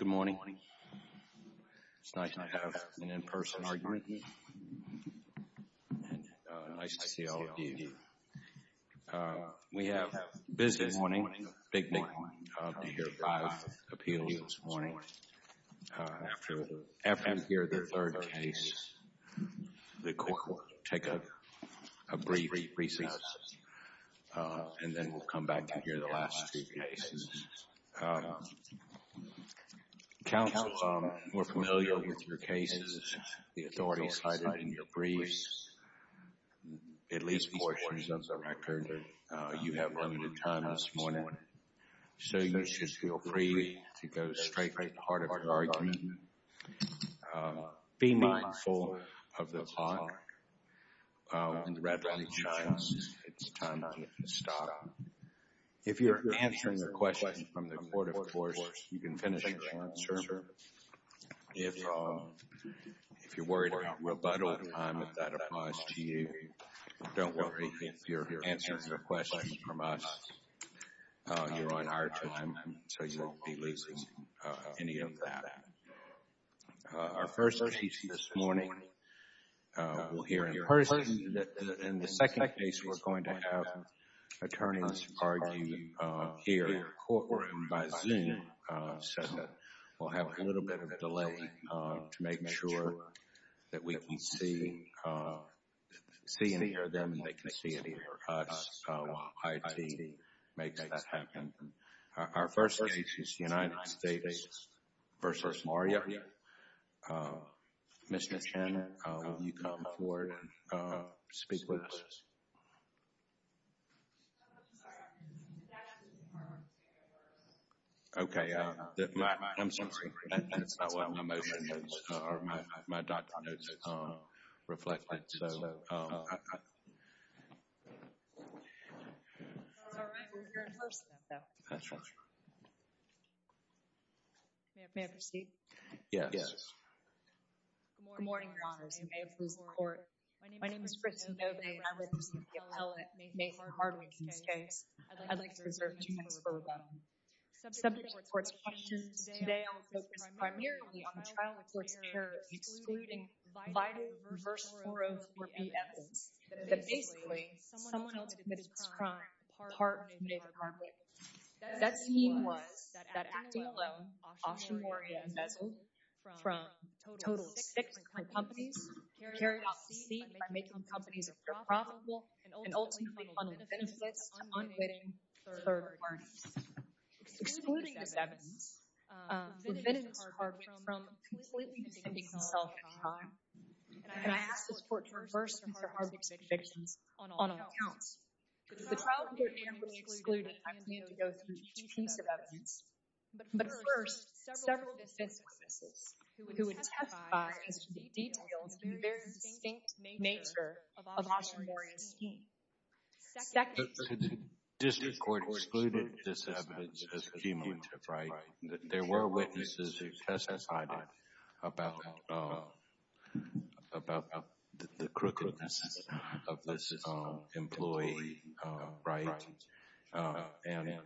Good morning. It's nice to have an in-person argument here, and nice to see all of you. We have business this morning, big day, to hear five appeals this morning. After we hear the third case, the court will take a brief recess, and then we'll come back to hear the last two cases. Counsel, we're familiar with your cases, the authorities cited in your briefs, at least portions of the record that you have limited time this morning. So you should feel free to go straight to the heart of your argument. Be mindful of the clock. When the red light shines, it's time to stop. If you're answering a question from the court, of course, you can finish answering. If you're worried about time, if that applies to you, don't worry. If you're answering a question from us, you're on our time, so you won't be losing any of that. Our first case this morning, we'll hear in person. In the second case, we're going to have attorneys arguing here in the courtroom by Zoom. We'll have a little bit of a delay to make sure that we can see and hear them, and they can see and hear us, while IT makes that happen. Our first case is United States v. Maria. Ms. McShannon, will you come forward and speak with us? Okay. I'm sorry. That's not what my motion is, or my document is reflecting. That's all right. We'll hear in person. May I proceed? Yes. Good morning, Your Honors. I may have lost the court. My name is Kristin Bovane, and I represent the appellate, Maitland Hardwick, in this case. I'd like to reserve two minutes for rebuttal. Subject to the court's questions today, I will focus primarily on the trial with court's care, excluding Vida v. 404B evidence, that basically, someone else committed this crime, apart from David Hardwick. That scheme was that acting alone, Asha Maria, embezzled from a total of six different companies, carried off the scene by making the companies more profitable, and ultimately funneled benefits to unwitting third parties. Excluding this evidence prevented Mr. Hardwick from completely defending himself in time, and I ask this court to reverse Mr. Hardwick's convictions on all accounts. The trial with court's care was excluded. I'm going to need to go through two pieces of evidence. But first, several defense witnesses who would testify as to the details of the very distinct nature of Asha Maria's scheme. Second, the district court excluded this evidence as cumulative, right? There were witnesses who testified about the crookedness of this employee right, and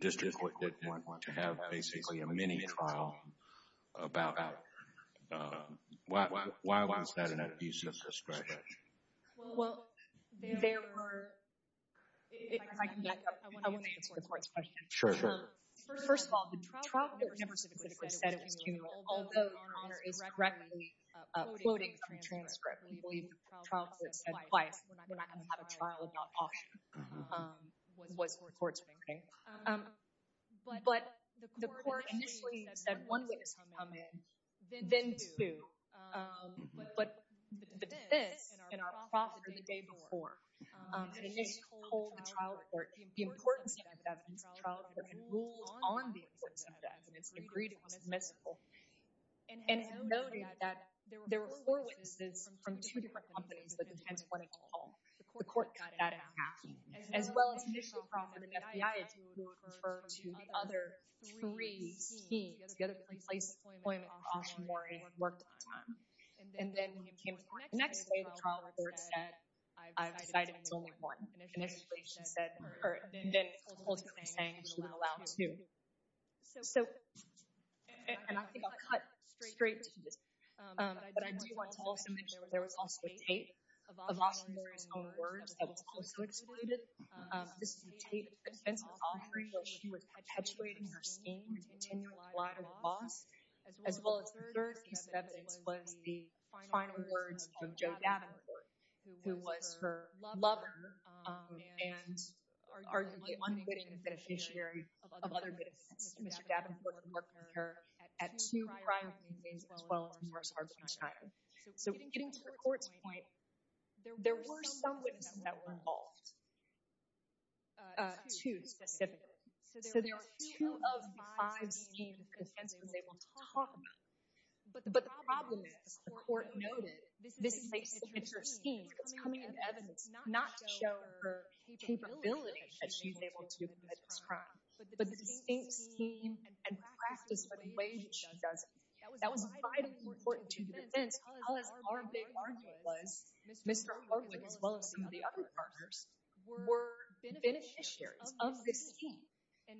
district court didn't want to have, basically, a mini-trial about that. Why was that an abuse of discretion? Well, there were... If I can back up, I want to answer the court's question. Sure, go ahead. First of all, the trial court never specifically said it was cumulative, although your Honor is correctly quoting from the transcript. We believe the trial court said twice, we're not going to have a trial about Asha, was what the court's making. But the court initially said one witness had come in, then two. But this, in our process the day before, it just told the trial court the importance of the evidence. The trial court had ruled on the importance of the evidence and agreed it was admissible. And it noted that there were four witnesses from two different companies that the defense wanted to call. The court got that in half. As well as the initial problem, the FBI had to refer to the other three teams to get a place appointment for Asha Maria who had worked at the time. And then the next day the trial court said, I've decided it's only one. And initially she said, or then ultimately saying she would allow two. So, and I think I'll cut straight to this, but I do want to also mention there was also a tape of Asha Maria's own words that was also excluded. This is a tape that the defense was offering where she was perpetuating her scheme and continuing to lie to her boss. As well as the third piece of evidence was the final words of Joe Davenport, who was her lover and arguably one good beneficiary of other good events. Mr. Davenport had worked with her at two prior meetings as well as Marsha Arbenstein. So getting to the court's point, there were some witnesses that were involved, two specifically. So there were two of the five schemes the defense was able to talk about. But the problem is, the court noted, this is a signature scheme. It's coming in evidence not to show her capability that she's able to commit this crime, but the distinct scheme and practice for the way that she does it. That was vitally important to the defense because our big partner was Mr. Harwood as well as some of the other partners were beneficiaries of this scheme.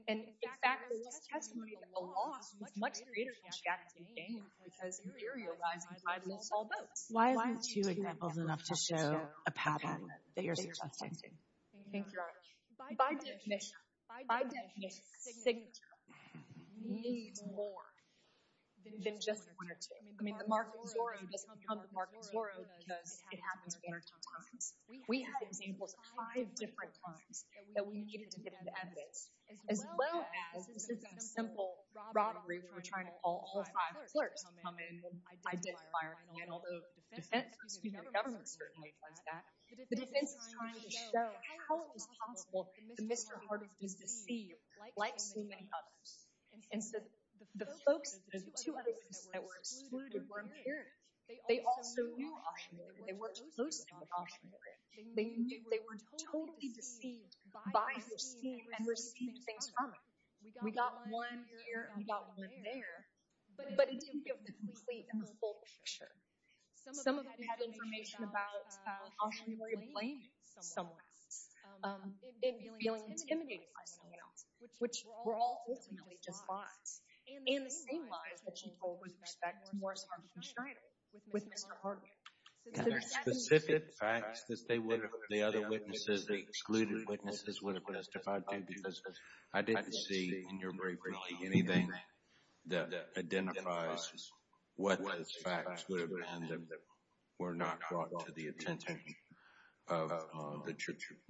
In fact, there was testimony that the law was much greater than she actually gained because you're realizing I lose all votes. Why aren't two examples enough to show a pattern that you're suggesting? Thank you, Your Honor. By definition, a signature needs more than just one or two. I mean, the mark of Zorro does become the mark of Zorro because it happens at all times. We had examples five different times that we needed to get the evidence, as well as this is a simple robbery where we're trying to call all five clerks to come in and identify her. And although the defense, excuse me, the government certainly does that, the defense is trying to show how it is possible that Mr. Harwood is deceived like so many others. And so the folks, the two other ones that were excluded were imperative. They also knew Auctioneer. They worked closely with Auctioneer. They were totally deceived by the scheme and received things from it. We got one here and we got one there, but it didn't give the complete and the full picture. Some of them had information about Auctioneer blaming someone else and feeling intimidated by someone else, which were all ultimately just lies. And the same lies that she told with respect to Morris Harvey Schneider with Mr. Harwood. And there are specific facts that the other witnesses, the excluded witnesses, would have testified to because I didn't see in your brief really anything that identifies what those facts would have been that were not brought to the attention of the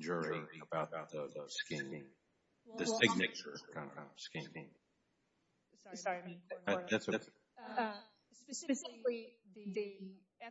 jury about the scheme. The signature scheme. Sorry. That's okay. Specifically, the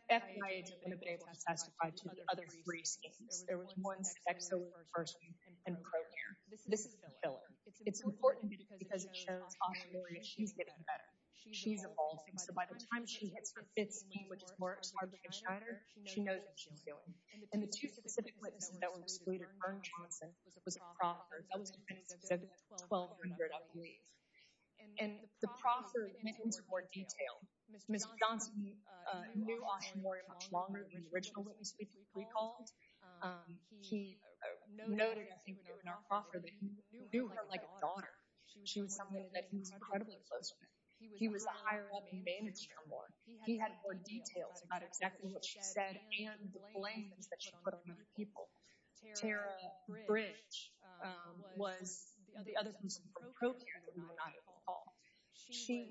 FBI agents would have been able to testify to the other three schemes. There was one sex offerer person in Procure. This is filler. It's important because it shows Auctioneer that she's getting better. She's evolving. So by the time she hits her fifth scheme, which is Morris Harvey Schneider, she knows what she's doing. And the two specific witnesses that were excluded, Ern Johnson was a proffer. That was a witness who said that at 12, you're going to have to leave. And the proffer went into more detail. Ms. Johnson knew Auctioneer much longer than the original witness we called. He noted, I think, in our proffer that he knew her like a daughter. She was someone that he was incredibly close with. He was the higher-up and manager more. He had more details about exactly what she said and the blames that she put on other people. Tara Bridge was the other person from Procure that we were not at all. She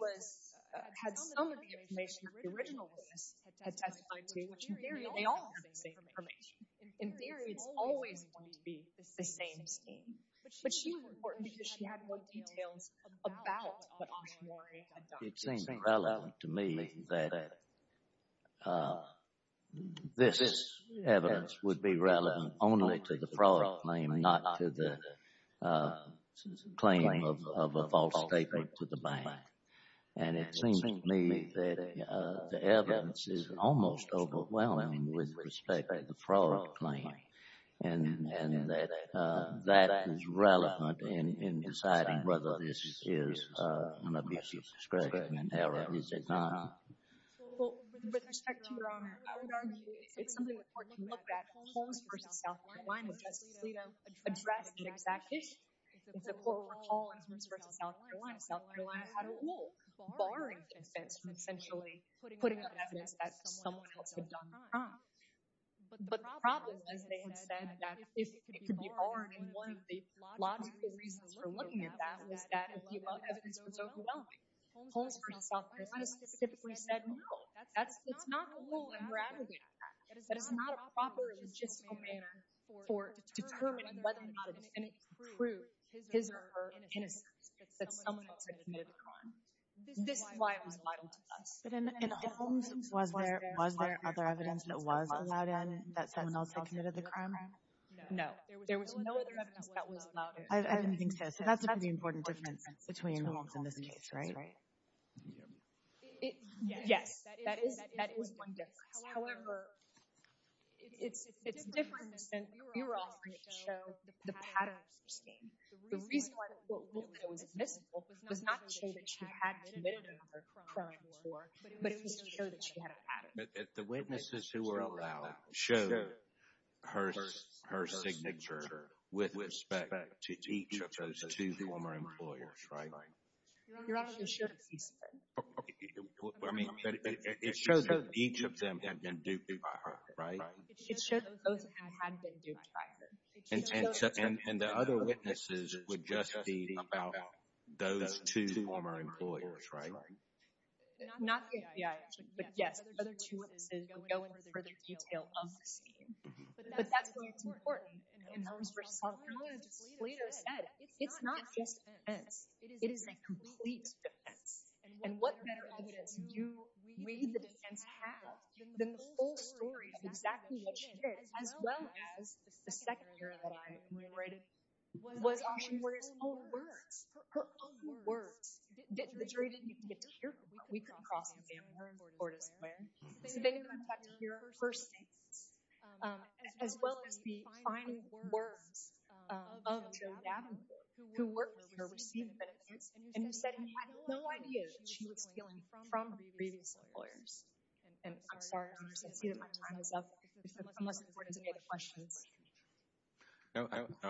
had some of the information that the original witness had testified to, which in theory they all had the same information. In theory, it's always going to be the same scheme. But she was important because she had more details about what Auctioneer had done. It seems relevant to me that this evidence would be relevant only to the fraud claim, not to the claim of a false statement to the bank. And it seems to me that the evidence is almost overwhelming with respect to the fraud claim and that that is relevant in deciding whether this is an abuse of discretion and error. With respect to your Honor, I would argue it's something important to look at. Holmes v. South Carolina Justice Lito addressed it exactly. It's a poor recall of Holmes v. South Carolina. South Carolina had a rule barring defense from essentially putting up evidence that someone else had done the crime. But the problem, as they had said, that if it could be barred, and one of the logical reasons for looking at that was that if you brought evidence, it was overwhelming. Holmes v. South Carolina Justice typically said no. That's not the rule and we're advocating for that. That is not a proper logistical manner for determining whether or not it is any true his or her innocence that someone else had committed the crime. This is why it was vital to us. But in Holmes, was there other evidence that was allowed in that someone else had committed the crime? No, there was no other evidence that was allowed in. I don't think so. So that's a pretty important difference between Holmes and this case, right? Yes, that is one difference. However, it's different since we were offering it to show the pattern of sustain. The reason why it was admissible was not to show that she had committed another crime before, but it was to show that she had a pattern. The witnesses who were allowed showed her signature with respect to each of those two former employers, right? Your Honor, they showed a piece of it. It shows that each of them had been duped by her, right? It showed that both of them had been duped by her. And the other witnesses would just be about those two former employers, right? Not the FBI, actually. But yes, the other two witnesses would go into further detail of the scheme. But that's why it's important in Holmes v. Hall. As Toledo said, it's not just defense. It is a complete defense. And what better evidence do we, the defense, have than the full story of exactly what she did as well as the second hearing that I narrated? Was that she wrote her own words. Her own words. The jury didn't even get to hear them, but we couldn't cross examine her in Fortis Square. So they didn't even get to hear her statements, as well as the fine words of Joe Davenport, who worked with her, received benefits, and who said he had no idea that she was stealing from previous employers. And I'm sorry, Your Honors, I see that my time is up. Unless you have any other questions. No,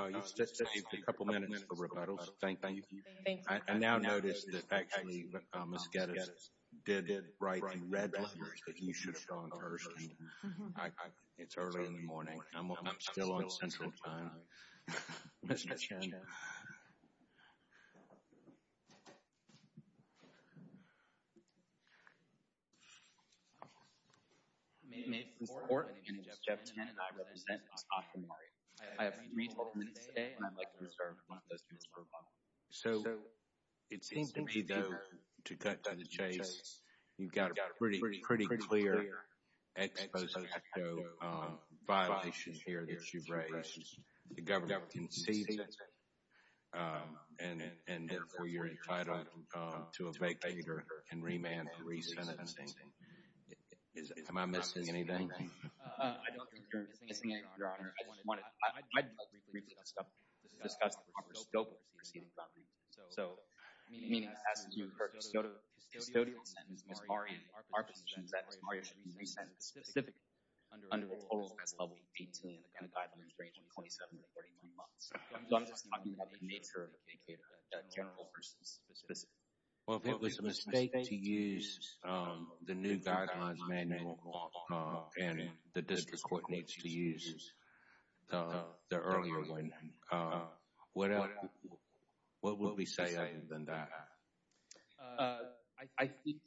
you still have a couple minutes for rebuttals. Thank you. I now notice that actually Ms. Geddes did write in red letters that you should have gone first. It's early in the morning. I'm still on central time. Mr. Chairman. May it please the Court. My name is Jeff Tannen, and I represent Scott Kamari. I have three total minutes today, and I'd like to reserve one of those minutes for rebuttal. So it seems to me, though, to cut down the chase, you've got a pretty clear ex post facto violation here that you've raised. The Governor concedes it, and therefore you're entitled to a vacater and remand for resentencing. Am I missing anything? I don't think you're missing anything, Your Honor. I'd like to briefly discuss the proper scope of the proceeding. So, I mean, as to her custodial sentence, Ms. Kamari, our position is that Ms. Kamari should be resented specifically under the total as of 18, and the guidelines range from 27 to 39 months. So I'm just talking about the nature of a vacater, a general person specifically. Well, if it was a mistake to use the new guidelines manual, and the District Court needs to use the earlier one, what would we say other than that? I think...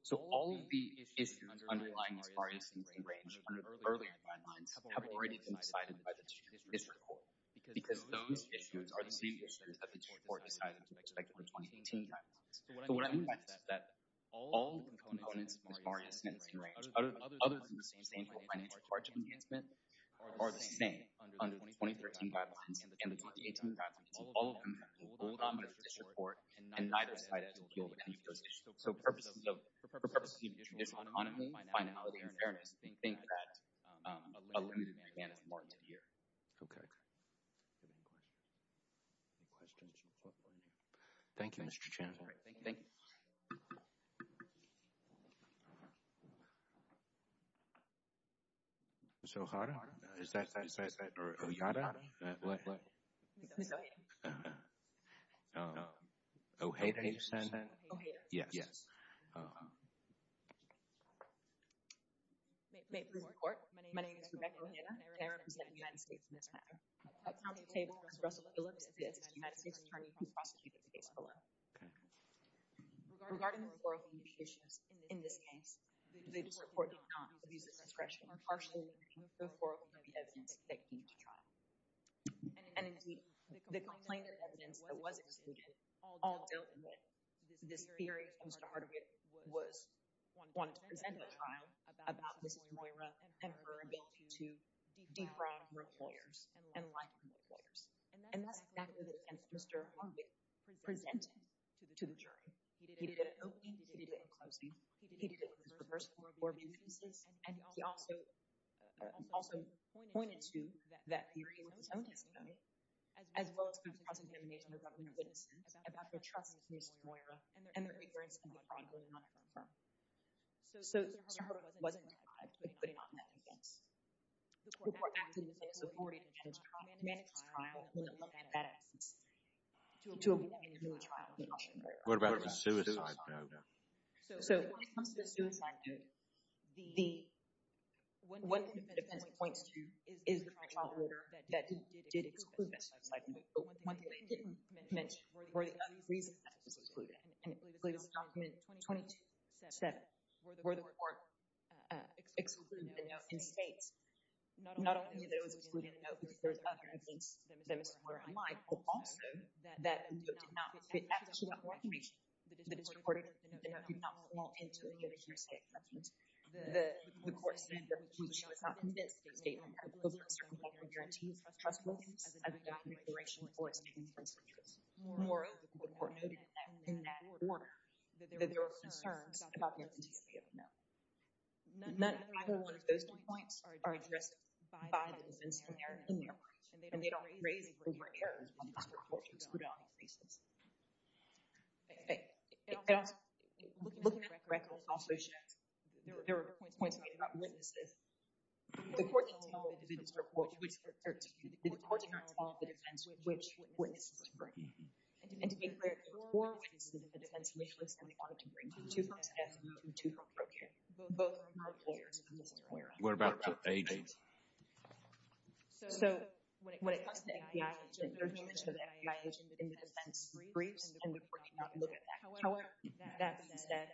So all of the issues underlying Ms. Kamari's sentencing range under the earlier guidelines have already been decided by the District Court, because those issues are the same issues that the Court decided to expect under the 2018 guidelines. So what I mean by that is that all of the components of Ms. Kamari's sentencing range, other than the same financial charge enhancement, are the same under the 2013 guidelines, and the 2018 guidelines, all of them have been pulled on by the District Court, and neither side has a deal with any of those issues. So, for purposes of issue, there's anonymity, finality, and fairness. They think that a limited management is warranted here. Okay. Any questions? Thank you, Mr. Chairman. Thank you. Okay. Ms. O'Hara? Is that what I said? Or O'Hara? What? Ms. O'Hara. Oh, O'Hara, you said. O'Hara. Yes. Oh, okay. Reporters report, my name is Rebecca O'Hara, and I represent the United States in this matter. At this time, I'd like to say that Mr. Russell Phillips is the United States Attorney who prosecuted the case below. Regarding the 401k issues, in this case, the report did not abuse the discretion or partially limit the 401k evidence that came to trial. And indeed, the complaint of evidence that was excluded all dealt with. This theory, Mr. Hardwick wanted to present at trial about Mrs. Moira and her ability to defraud her employers and lie to her employers. And that's exactly the defense Mr. Hardwick presented to the jury. He did it openly. He did it in closing. He did it in reverse for abuses. And he also pointed to that theory in his own testimony, as well as the cross-examination of government witnesses about their trust in Mrs. Moira and their ignorance in defrauding her firm. So, Mr. Hardwick wasn't defrauded, but he did not commit offenses. The court acted as if he already had managed a trial and looked at that evidence. To avoid a new trial, he did not shoot Moira. What about the suicide note? So, when it comes to the suicide note, the one thing the defense points to is the trial order that did exclude that suicide note. But one thing they didn't mention were the other reasons that it was excluded. In the latest document 22-7, where the court excluded the note, it states not only that it was excluding the note because there's evidence that Mr. Moira lied, but also that the note did not fit into the court order. The note did not fall into any of the jury's statements. The court said that the judge was not convinced of the statement because there was no guarantee of trustworthiness as a document in relation to the court's statement. Moreover, the court noted in that order that there were concerns about the authenticity of the note. None of either one of those two points are addressed by the defense when they are in their work, and they don't raise it when there are errors on this report, which is put on the cases. Looking at the records also shows there were points made about witnesses. The court did not follow the defense witnesses were bringing. And to be clear, there were witnesses in the defense witnesses that they wanted to bring to the defense and to Mr. Moira. What about the FBI agent? So when it comes to the FBI agent, there's no mention of the FBI agent in the defense briefs, and the court did not look at that. However, that being said,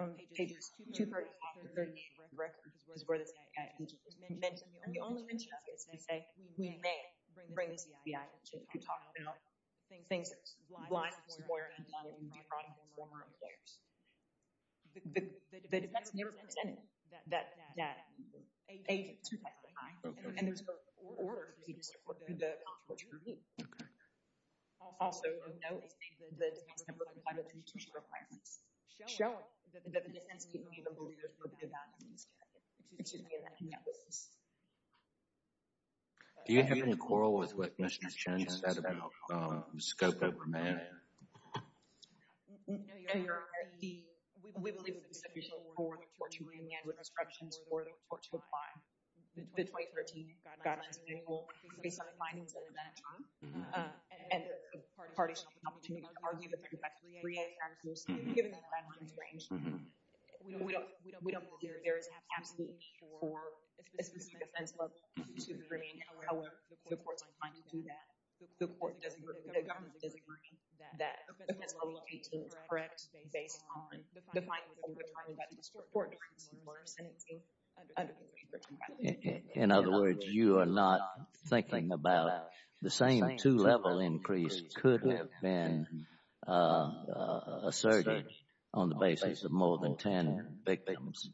on pages 235-38 of the record, it was where the FBI agent was mentioned, and the only mention of it is to say, we may bring the FBI agent to talk about things lying to Mr. Moira, and lying to the defrauding former employers. The defense never presented that agent to the FBI, and there was no order for the defense to support the controversy review. Okay. Also of note, the defense never complied with any tuition requirements. Showing that the defense can't even believe there's no good value in this character. Excuse me. No. Do you have any quarrel with what Mr. Chen said about scope over man? No, Your Honor. The, we believe it was official for the torturing and manslaughter instructions for the tort to apply. The 2013 guidelines manual includes some of the findings of that time, and the parties should have the opportunity to argue that they're defective. Given that the guidelines range, we don't believe there is absolutely for a specific defense level to bring, however, the courts are inclined to do that. The court doesn't agree, the government doesn't agree, that defense level 18 is correct based on the findings of the tort during the murder sentencing under the 2013 guidelines. In other words, you are not thinking about the same two-level increase could have been asserted on the basis of more than 10 victims,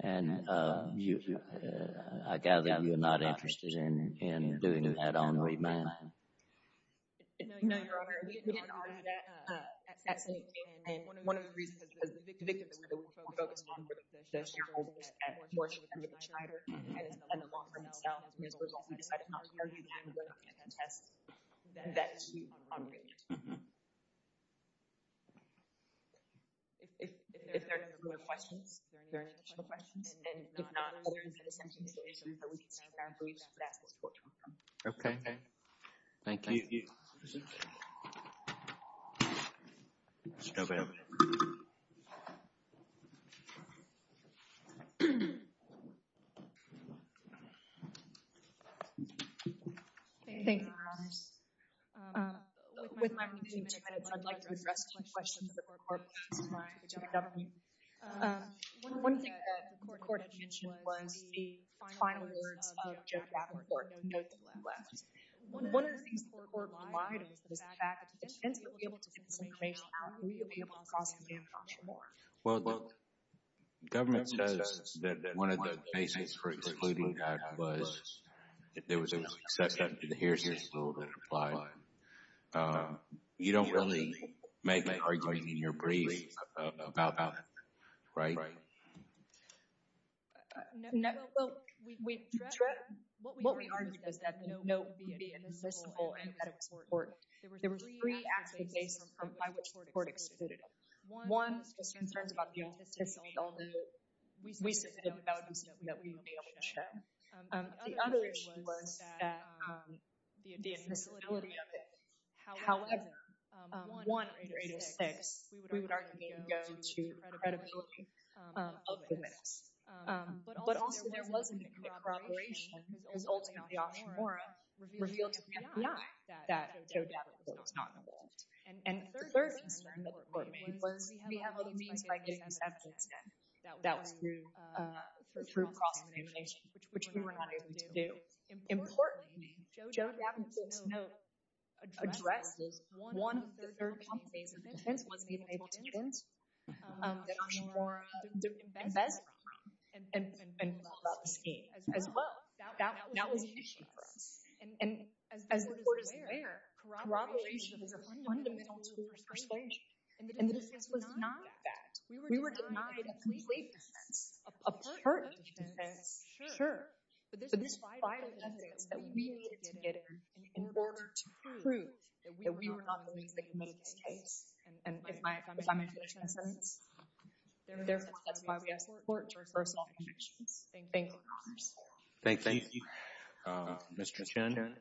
and I gather you're not interested in doing that on remand. No, Your Honor. Your Honor, we didn't argue that at sentencing, and one of the reasons is because the victims were the ones we focused on were the shareholders at Porsche and the Schneider, and it's been a long run itself, and as a result, we decided not to argue that and we're not going to contest that dispute on remand. If there are no further questions, if there are any additional questions, and if not, other than the sentencing situation, we can take our briefs and ask the court to move on. Okay, thank you. Ms. Dobbin. Thank you, Your Honor. With my remaining minutes, I'd like to address two questions that were brought to my attention by the government. One thing that the court had mentioned was the final words of Joe Kavanaugh in court, the note that left. One of the things that the court relied on was the fact that the defendant would be able to take the situation out and we would be able to cross him down the front door. Well, the government says that one of the basis for excluding that was that there was an exception to the hearsay rule that applied. You don't really make an argument in your brief about that, right? No. Well, what we argued was that the note would be inadmissible and that it was important. There were three aspects by which the court excluded it. One was concerns about the authenticity, although we submitted the values that we would be able to share. The other issue was the admissibility of it. However, 1806, we would argue, didn't go to the credibility of the witness. But also there wasn't a corroboration, because ultimately Oshimura revealed to the FBI that Joe Kavanaugh was not involved. And the third concern that the court made was we have other means by getting this evidence done. That was through cross-examination, which we were not able to do. Importantly, Joe Kavanaugh's note addresses one of the three complications that the defense wasn't able to get into, that Oshimura didn't invest in, and was all about the scheme as well. That was the issue for us. And as the court is aware, corroboration is a fundamental tool for persuasion. And the defense was not that. We were denied a complete defense, a pertinent defense, sure. But this vital evidence that we needed to get in order to prove that we were not the ones that committed this case, and if I may finish my sentence. Therefore, that's why we asked the court to reverse all conditions. Thank you. Thank you. Mr. Chen.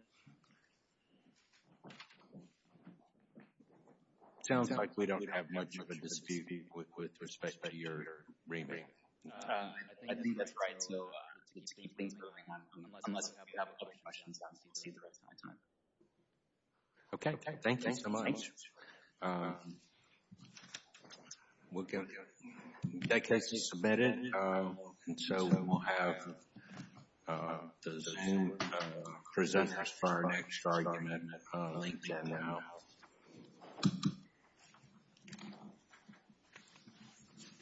It sounds like we don't have much of a dispute with respect to your rebate. I think that's right to keep things moving on unless we have other questions. Okay, thank you so much. That case is submitted. And so we'll have the presenters for our next argument linked in now.